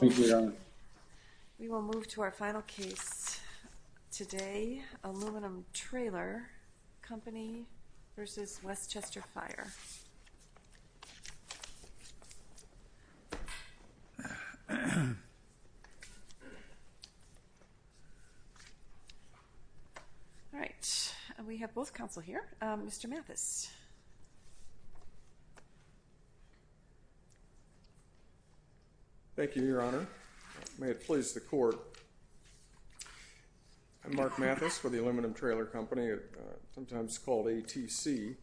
We will move to our final case today, Aluminum Trailer Company v. Westchester Fire. All right, we have both counsel here. Mr. Mathis. Thank you, Your Honor. May it please the court, I'm Mark Mathis for the Aluminum Trailer Company, sometimes called ATC.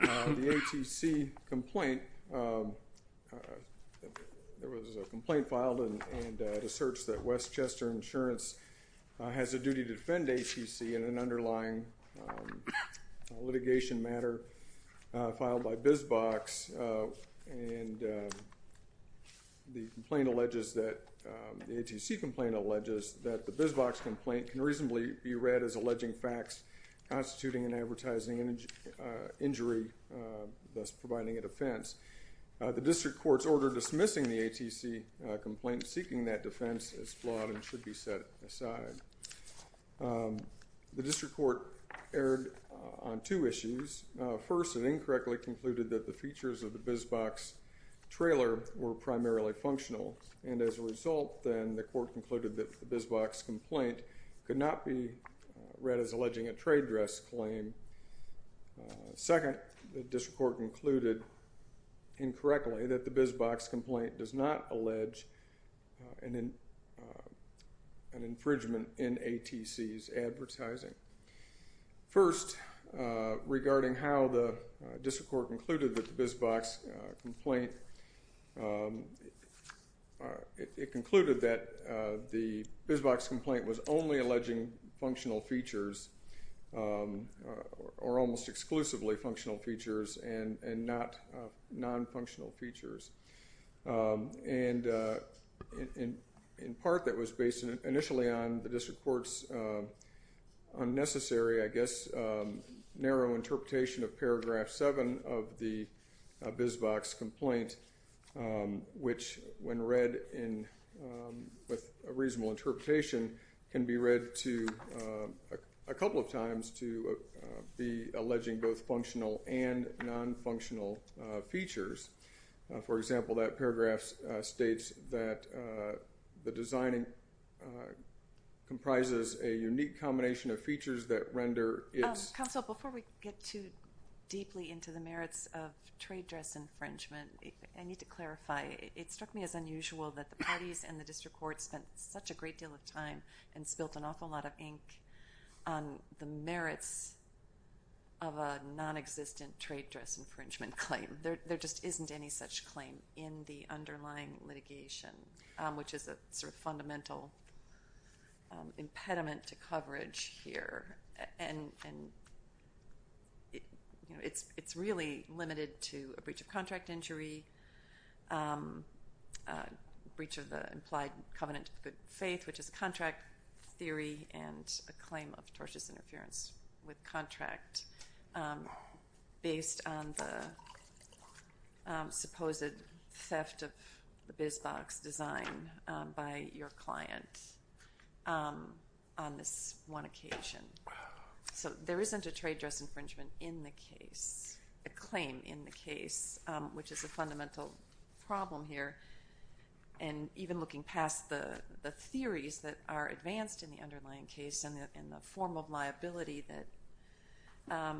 The ATC complaint, there was a complaint filed and a search that Westchester Insurance has a duty to defend ATC in an underlying litigation matter filed by BizBox and the complaint alleges that, the ATC complaint alleges that the BizBox complaint can reasonably be read as alleging facts constituting an advertising injury, thus providing a defense. The district court's order dismissing the ATC complaint seeking that defense is flawed and should be set aside. The district court erred on two issues. First, it incorrectly concluded that the features of the BizBox trailer were primarily functional and as a result, then the court concluded that the BizBox complaint could not be read as alleging a trade dress claim. Second, the district court concluded incorrectly that the BizBox complaint does not allege an infringement in ATC's advertising. First, regarding how the district court concluded that the BizBox complaint, it concluded that the BizBox complaint was only alleging functional features or almost exclusively functional features and not non-functional features. And in part, that was based initially on the district court's unnecessary, I guess, narrow interpretation of paragraph seven of the BizBox complaint, which when read with a reasonable interpretation can be read a couple of times to be alleging both functional and non-functional features. For example, that paragraph states that the designing comprises a unique combination of features that render its- Counsel, before we get too deeply into the merits of trade dress infringement, I need to clarify. It struck me as unusual that the parties and the district court spent such a great deal of time and spilled an awful lot of ink on the merits of a non-existent trade dress infringement claim. There just isn't any such claim in the underlying litigation, which is a sort of fundamental impediment to coverage here. And it's really limited to a breach of contract injury, breach of the implied covenant of good faith, which is a contract theory and a claim of tortious interference with contract based on the supposed theft of the BizBox design by your client on this one occasion. So there isn't a trade dress infringement in the case, a claim in the case, which is a fundamental problem here. And even looking past the theories that are advanced in the underlying case and the form of liability that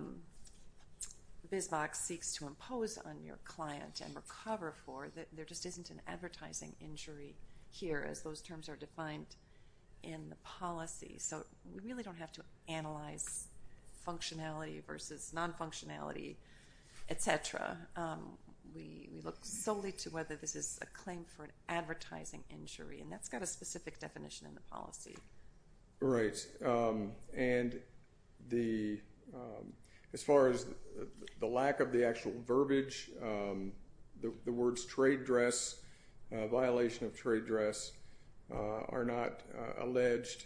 BizBox seeks to impose on your client and recover for, there just isn't an advertising injury here as those terms are defined in the policy. So we really don't have to analyze functionality versus non-functionality, et cetera. We look solely to whether this is a claim for an advertising injury, and that's got a specific definition in the policy. Right, and as far as the lack of the actual verbiage, the words trade dress, violation of trade dress are not alleged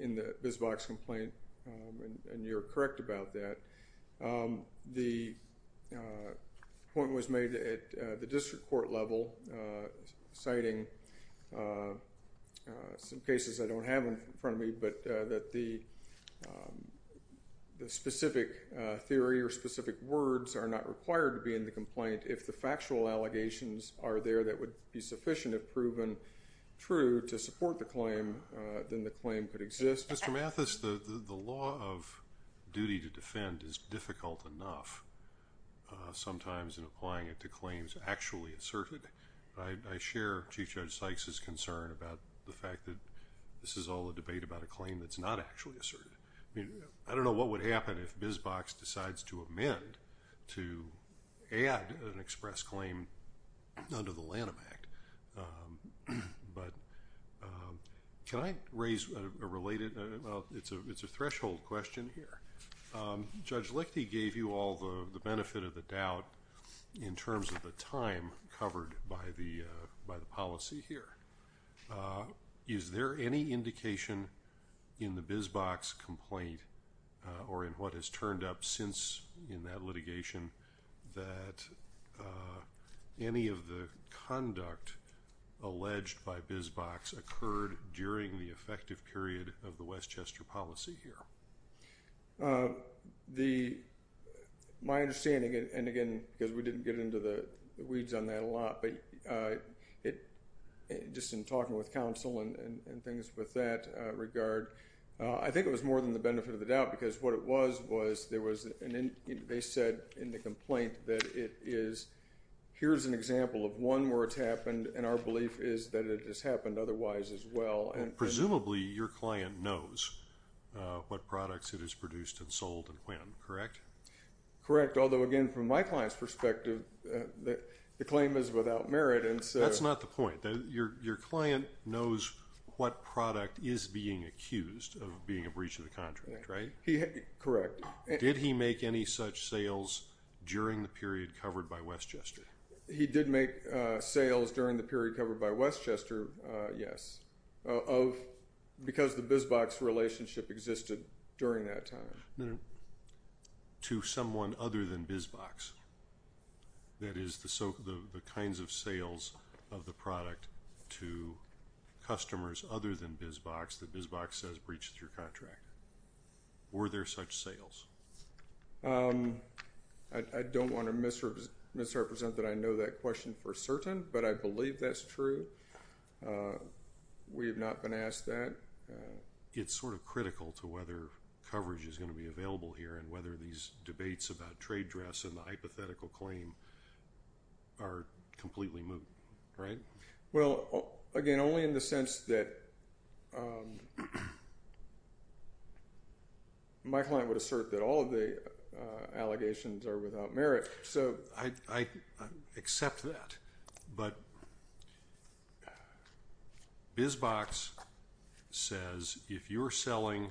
in the BizBox complaint, and you're correct about that. The point was made at the district court level, citing some cases I don't have in front of me, but that the specific theory or specific words are not required to be in the complaint if the factual allegations are there that would be sufficient if proven true to support the claim, then the claim could exist. Mr. Mathis, the law of duty to defend is difficult enough sometimes in applying it to claims actually asserted. I share Chief Judge Sykes' concern about the fact that this is all a debate about a claim that's not actually asserted. I don't know what would happen if BizBox decides to amend, to add an express claim under the Lanham Act, but can I raise a related, it's a threshold question here. Judge Lichte gave you all the benefit of the doubt in terms of the time covered by the policy here. Is there any indication in the BizBox complaint or in what has turned up since in that litigation that any of the conduct alleged by BizBox occurred during the effective period of the Westchester policy here? My understanding, and again, because we didn't get into the weeds on that a lot, but just in talking with counsel and things with that regard, I think it was more than the benefit of the doubt because what it was was there was, they said in the complaint that it is, here's an example of one where it's happened and our belief is that it has happened otherwise as well. Presumably your client knows what products it has produced and sold and when, correct? Correct, although again, from my client's perspective, the claim is without merit and so. That's not the point. Your client knows what product is being accused of being a breach of the contract, right? Correct. Did he make any such sales during the period covered by Westchester? He did make sales during the period covered by Westchester, yes, because the BizBox relationship existed during that time. To someone other than BizBox, that is the kinds of sales of the product to customers other than BizBox that BizBox says breached your contract. Were there such sales? I don't want to misrepresent that I know that question for certain, but I believe that's true. We have not been asked that. It's sort of critical to whether coverage is gonna be available here and whether these debates about trade dress and the hypothetical claim are completely moot, right? Well, again, only in the sense that my client would assert that all of the allegations are without merit, so I accept that, but BizBox says if you're selling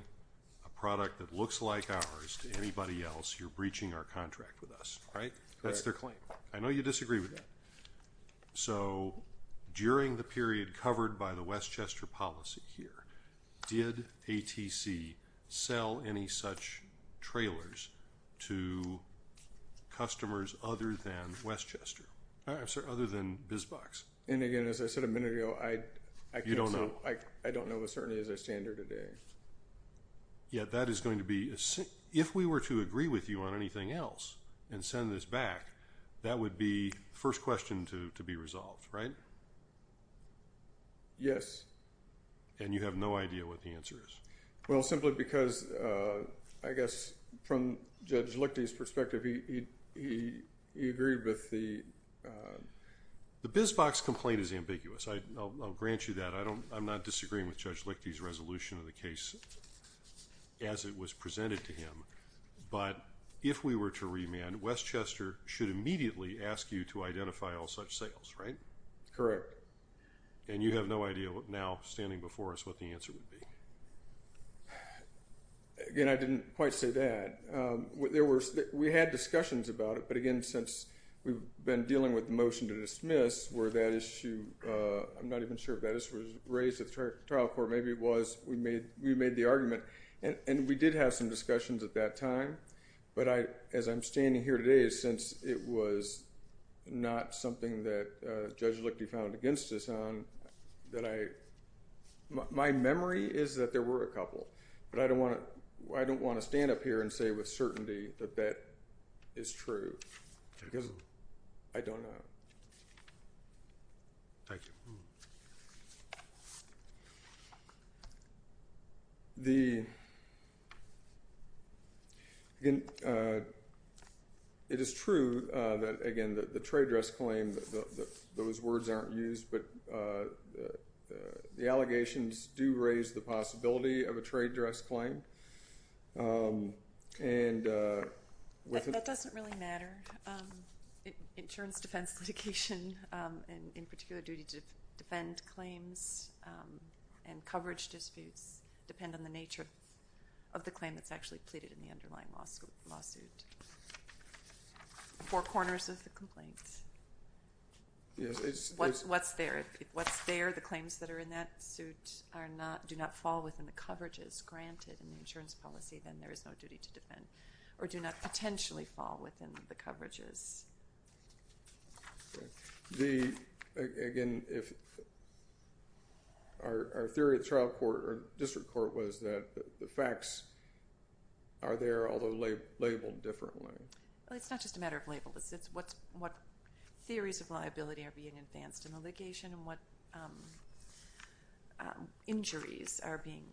a product that looks like ours to anybody else, you're breaching our contract with us, right? That's their claim. I know you disagree with that. So during the period covered by the Westchester policy here, did ATC sell any such trailers to customers other than BizBox? And again, as I said a minute ago, I don't know the certainty as I stand here today. Yeah, that is going to be, if we were to agree with you on anything else and send this back, that would be first question to be resolved, right? Yes. And you have no idea what the answer is? Well, simply because, I guess, from Judge Lichty's perspective, he agreed with the... The BizBox complaint is ambiguous. I'll grant you that. I'm not disagreeing with Judge Lichty's resolution of the case as it was presented to him, but if we were to remand, Westchester should immediately ask you to identify all such sales, right? Correct. And you have no idea now, standing before us, what the answer would be? Again, I didn't quite say that. We had discussions about it, but again, since we've been dealing with the motion to dismiss, where that issue, I'm not even sure if that issue was raised at the trial court. Or maybe it was, we made the argument. And we did have some discussions at that time. But as I'm standing here today, since it was not something that Judge Lichty found against us on, that I, my memory is that there were a couple. But I don't want to stand up here and say with certainty that that is true. Because I don't know. Thank you. The, it is true that, again, the trade dress claim, those words aren't used, but the allegations do raise the possibility of a trade dress claim. And with it. That doesn't really matter. Insurance defense litigation, and in particular, duty to defend claims and coverage disputes depend on the nature of the claim that's actually pleaded in the underlying lawsuit. Four corners of the complaint. Yes, it's. What's there, if what's there, the claims that are in that suit are not, do not fall within the coverages granted in the insurance policy, then there is no duty to defend. Or do not potentially fall within the coverages. The, again, if, our theory at trial court, or district court, was that the facts are there, although labeled differently. Well, it's not just a matter of labels. It's what theories of liability are being advanced in the litigation, and what injuries are being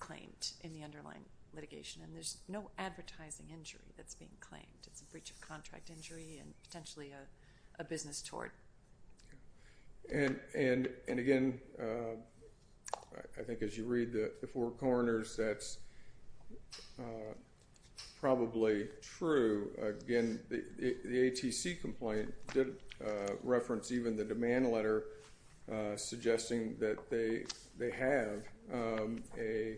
claimed in the underlying litigation. And there's no advertising injury that's being claimed. It's a breach of contract injury, and potentially a business tort. And, again, I think as you read the four corners, that's probably true. Again, the ATC complaint did reference even the demand letter, suggesting that they have a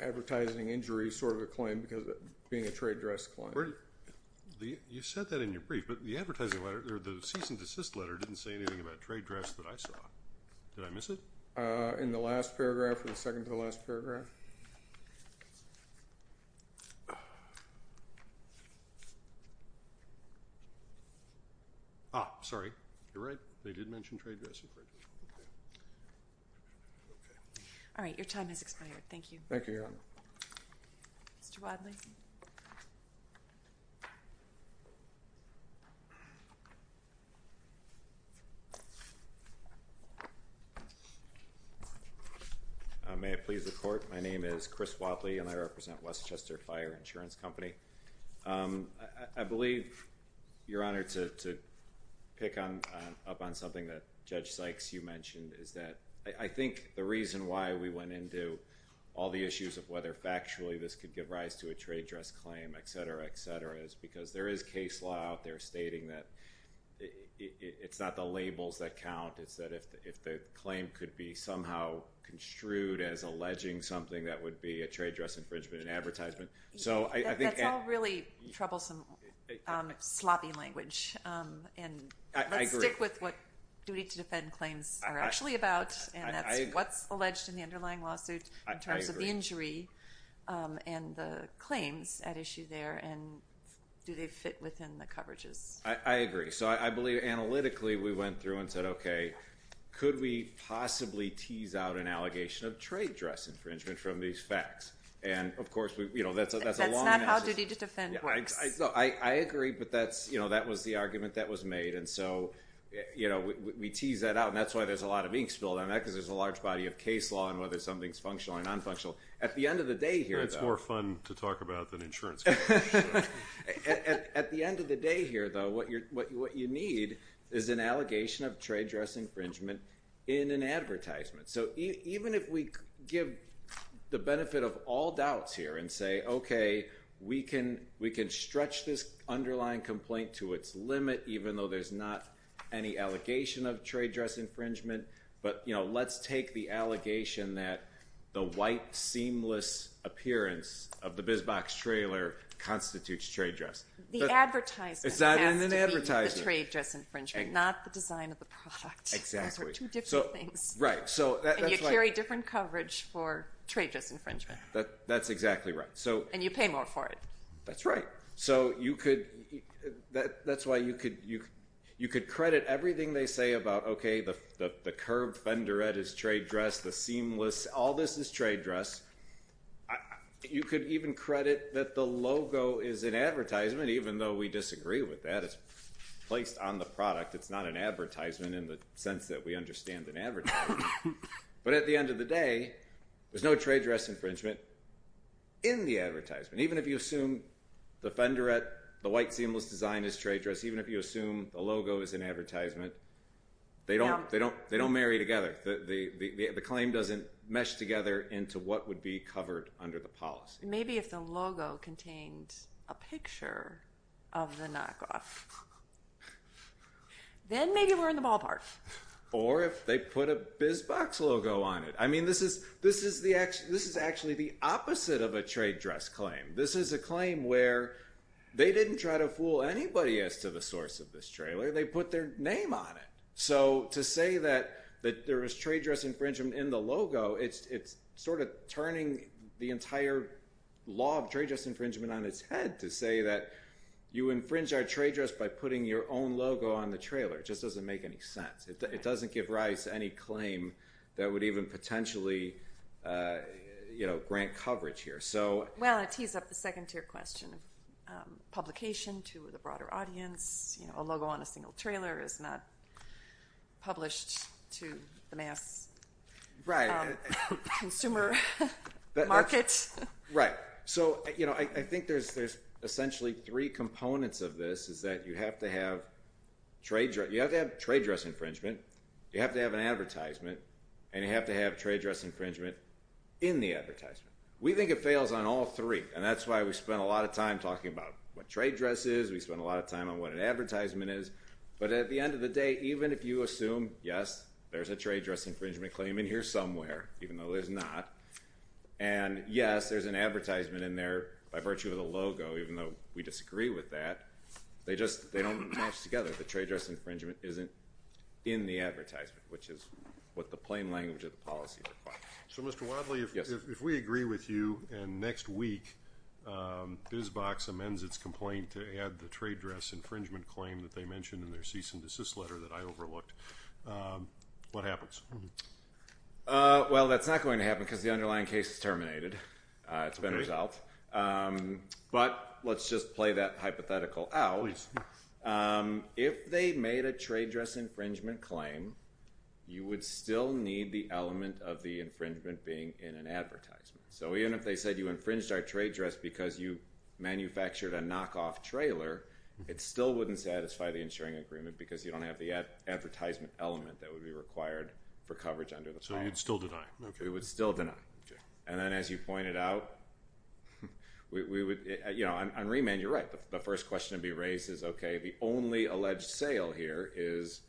advertising injury sort of a claim, because of it being a trade dress claim. The, you said that in your brief, but the advertising letter, or the cease and desist letter, didn't say anything about trade dress that I saw. Did I miss it? In the last paragraph, or the second to the last paragraph. Ah, sorry, you're right. They did mention trade dress. All right, your time has expired. Thank you. Thank you, Your Honor. Mr. Wadley. Mr. Wadley. May I please the court? My name is Chris Wadley, and I represent Westchester Fire Insurance Company. I believe, Your Honor, to pick up on something that Judge Sykes, you mentioned, is that I think the reason why we went into all the issues of whether factually this could give rise to a trade dress claim, et cetera, et cetera, is because there is case law out there stating that it's not the labels that count, it's that if the claim could be somehow construed as alleging something, that would be a trade dress infringement in advertisement. So, I think- That's all really troublesome, sloppy language. And let's stick with what duty to defend claims are actually about, and that's what's alleged in the underlying lawsuit, in terms of the injury, and the claims at issue there, and do they fit within the coverages? I agree. So, I believe analytically, we went through and said, okay, could we possibly tease out an allegation of trade dress infringement from these facts? And, of course, that's a long- That's not how duty to defend works. I agree, but that was the argument that was made. And so, we tease that out, and that's why there's a lot of ink spilled on that, because there's a large body of case law on whether something's functional or non-functional. At the end of the day here, though- That's more fun to talk about than insurance coverage. Sure. At the end of the day here, though, what you need is an allegation of trade dress infringement in an advertisement. So, even if we give the benefit of all doubts here, and say, okay, we can stretch this underlying complaint to its limit, even though there's not any allegation of trade dress infringement, but let's take the allegation that the white, seamless appearance of the BizBox trailer constitutes trade dress. The advertisement has to be the trade dress infringement, not the design of the product. Exactly. Those are two different things. Right, so that's why- And you carry different coverage for trade dress infringement. That's exactly right, so- And you pay more for it. That's right. So, you could, that's why you could credit everything they say about, okay, the curved fender at his trade dress, the seamless, all this is trade dress. You could even credit that the logo is an advertisement, even though we disagree with that. It's placed on the product. It's not an advertisement in the sense that we understand an advertisement. But at the end of the day, there's no trade dress infringement in the advertisement. Even if you assume the fender at the white, seamless design is trade dress, even if you assume the logo is an advertisement, they don't marry together. The claim doesn't mesh together into what would be covered under the policy. Maybe if the logo contained a picture of the knockoff, then maybe we're in the ballpark. Or if they put a BizBox logo on it. I mean, this is actually the opposite of a trade dress claim. This is a claim where they didn't try to fool anybody as to the source of this trailer. They put their name on it. So to say that there is trade dress infringement in the logo, it's sort of turning the entire law of trade dress infringement on its head to say that you infringe our trade dress by putting your own logo on the trailer. It just doesn't make any sense. It doesn't give Rice any claim that would even potentially grant coverage here. Well, it tees up the second tier question of publication to the broader audience. A logo on a single trailer is not published to the mass consumer market. Right. So I think there's essentially three components of this is that you have to have trade dress infringement, you have to have an advertisement, and you have to have trade dress infringement in the advertisement. We think it fails on all three. And that's why we spend a lot of time talking about what trade dress is. We spend a lot of time on what an advertisement is. But at the end of the day, even if you assume, yes, there's a trade dress infringement claim in here somewhere, even though there's not, and yes, there's an advertisement in there by virtue of the logo, even though we disagree with that, they don't match together. The trade dress infringement isn't in the advertisement, which is what the plain language of the policy requires. So Mr. Wadley, if we agree with you, and next week, BizBox amends its complaint to add the trade dress infringement claim that they mentioned in their cease and desist letter that I overlooked, what happens? Well, that's not going to happen because the underlying case is terminated. It's been resolved. But let's just play that hypothetical out. Please. If they made a trade dress infringement claim, you would still need the element of the infringement being in an advertisement. So even if they said you infringed our trade dress because you manufactured a knockoff trailer, it still wouldn't satisfy the insuring agreement because you don't have the advertisement element that would be required for coverage under the law. So you'd still deny? We would still deny. And then as you pointed out, we would, you know, on remand, you're right. The first question to be raised is, okay, the only alleged sale here is,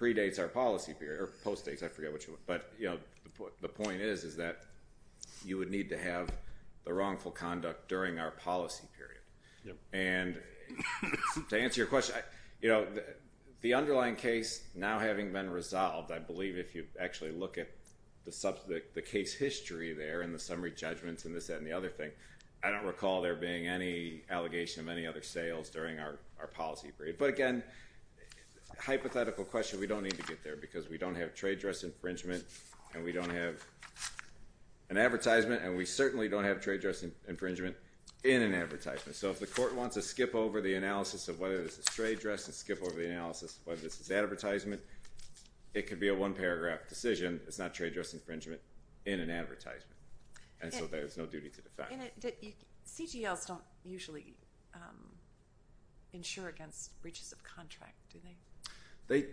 predates our policy period, or postdates, I forget which one, but you know, the point is is that you would need to have the wrongful conduct during our policy period. And to answer your question, you know, the underlying case now having been resolved, I believe if you actually look at the case history there and the summary judgments and this and the other thing, I don't recall there being any allegation of any other sales during our policy period. But again, hypothetical question, we don't need to get there because we don't have trade dress infringement and we don't have an advertisement and we certainly don't have trade dress infringement in an advertisement. So if the court wants to skip over the analysis of whether this is trade dress and skip over the analysis of whether this is advertisement, it could be a one paragraph decision. It's not trade dress infringement in an advertisement. And so there's no duty to defend. CGLs don't usually insure against breaches of contract, do they?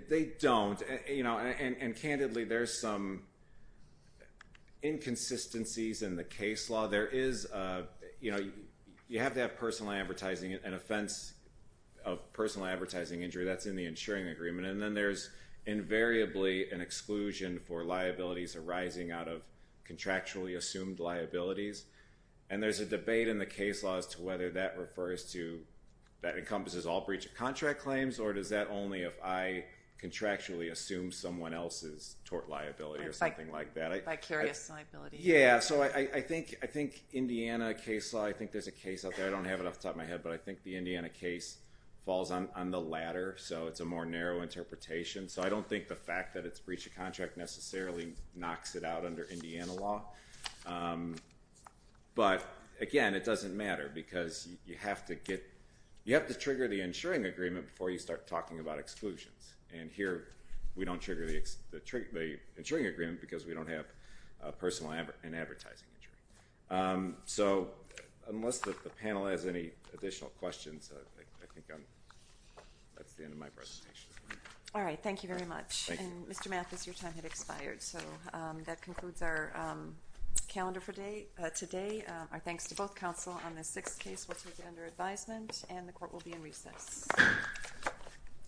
They don't, you know, and candidly, there's some inconsistencies in the case law. There is, you know, you have to have personal advertising and offense of personal advertising injury that's in the insuring agreement. And then there's invariably an exclusion for liabilities arising out of contractually assumed liabilities. And there's a debate in the case laws to whether that refers to, that encompasses all breach of contract claims, or does that only if I contractually assume someone else's tort liability or something like that. Vicarious liability. Yeah, so I think Indiana case law, I think there's a case out there, I don't have it off the top of my head, but I think the Indiana case falls on the ladder. So it's a more narrow interpretation. So I don't think the fact that it's breach of contract necessarily knocks it out under Indiana law. But again, it doesn't matter because you have to get, you have to trigger the insuring agreement before you start talking about exclusions. And here, we don't trigger the insuring agreement because we don't have personal and advertising injury. So unless the panel has any additional questions, I think that's the end of my presentation. All right, thank you very much. And Mr. Mathis, your time had expired. So that concludes our calendar for today. Our thanks to both counsel on this sixth case. We'll take it under advisement and the court will be in recess.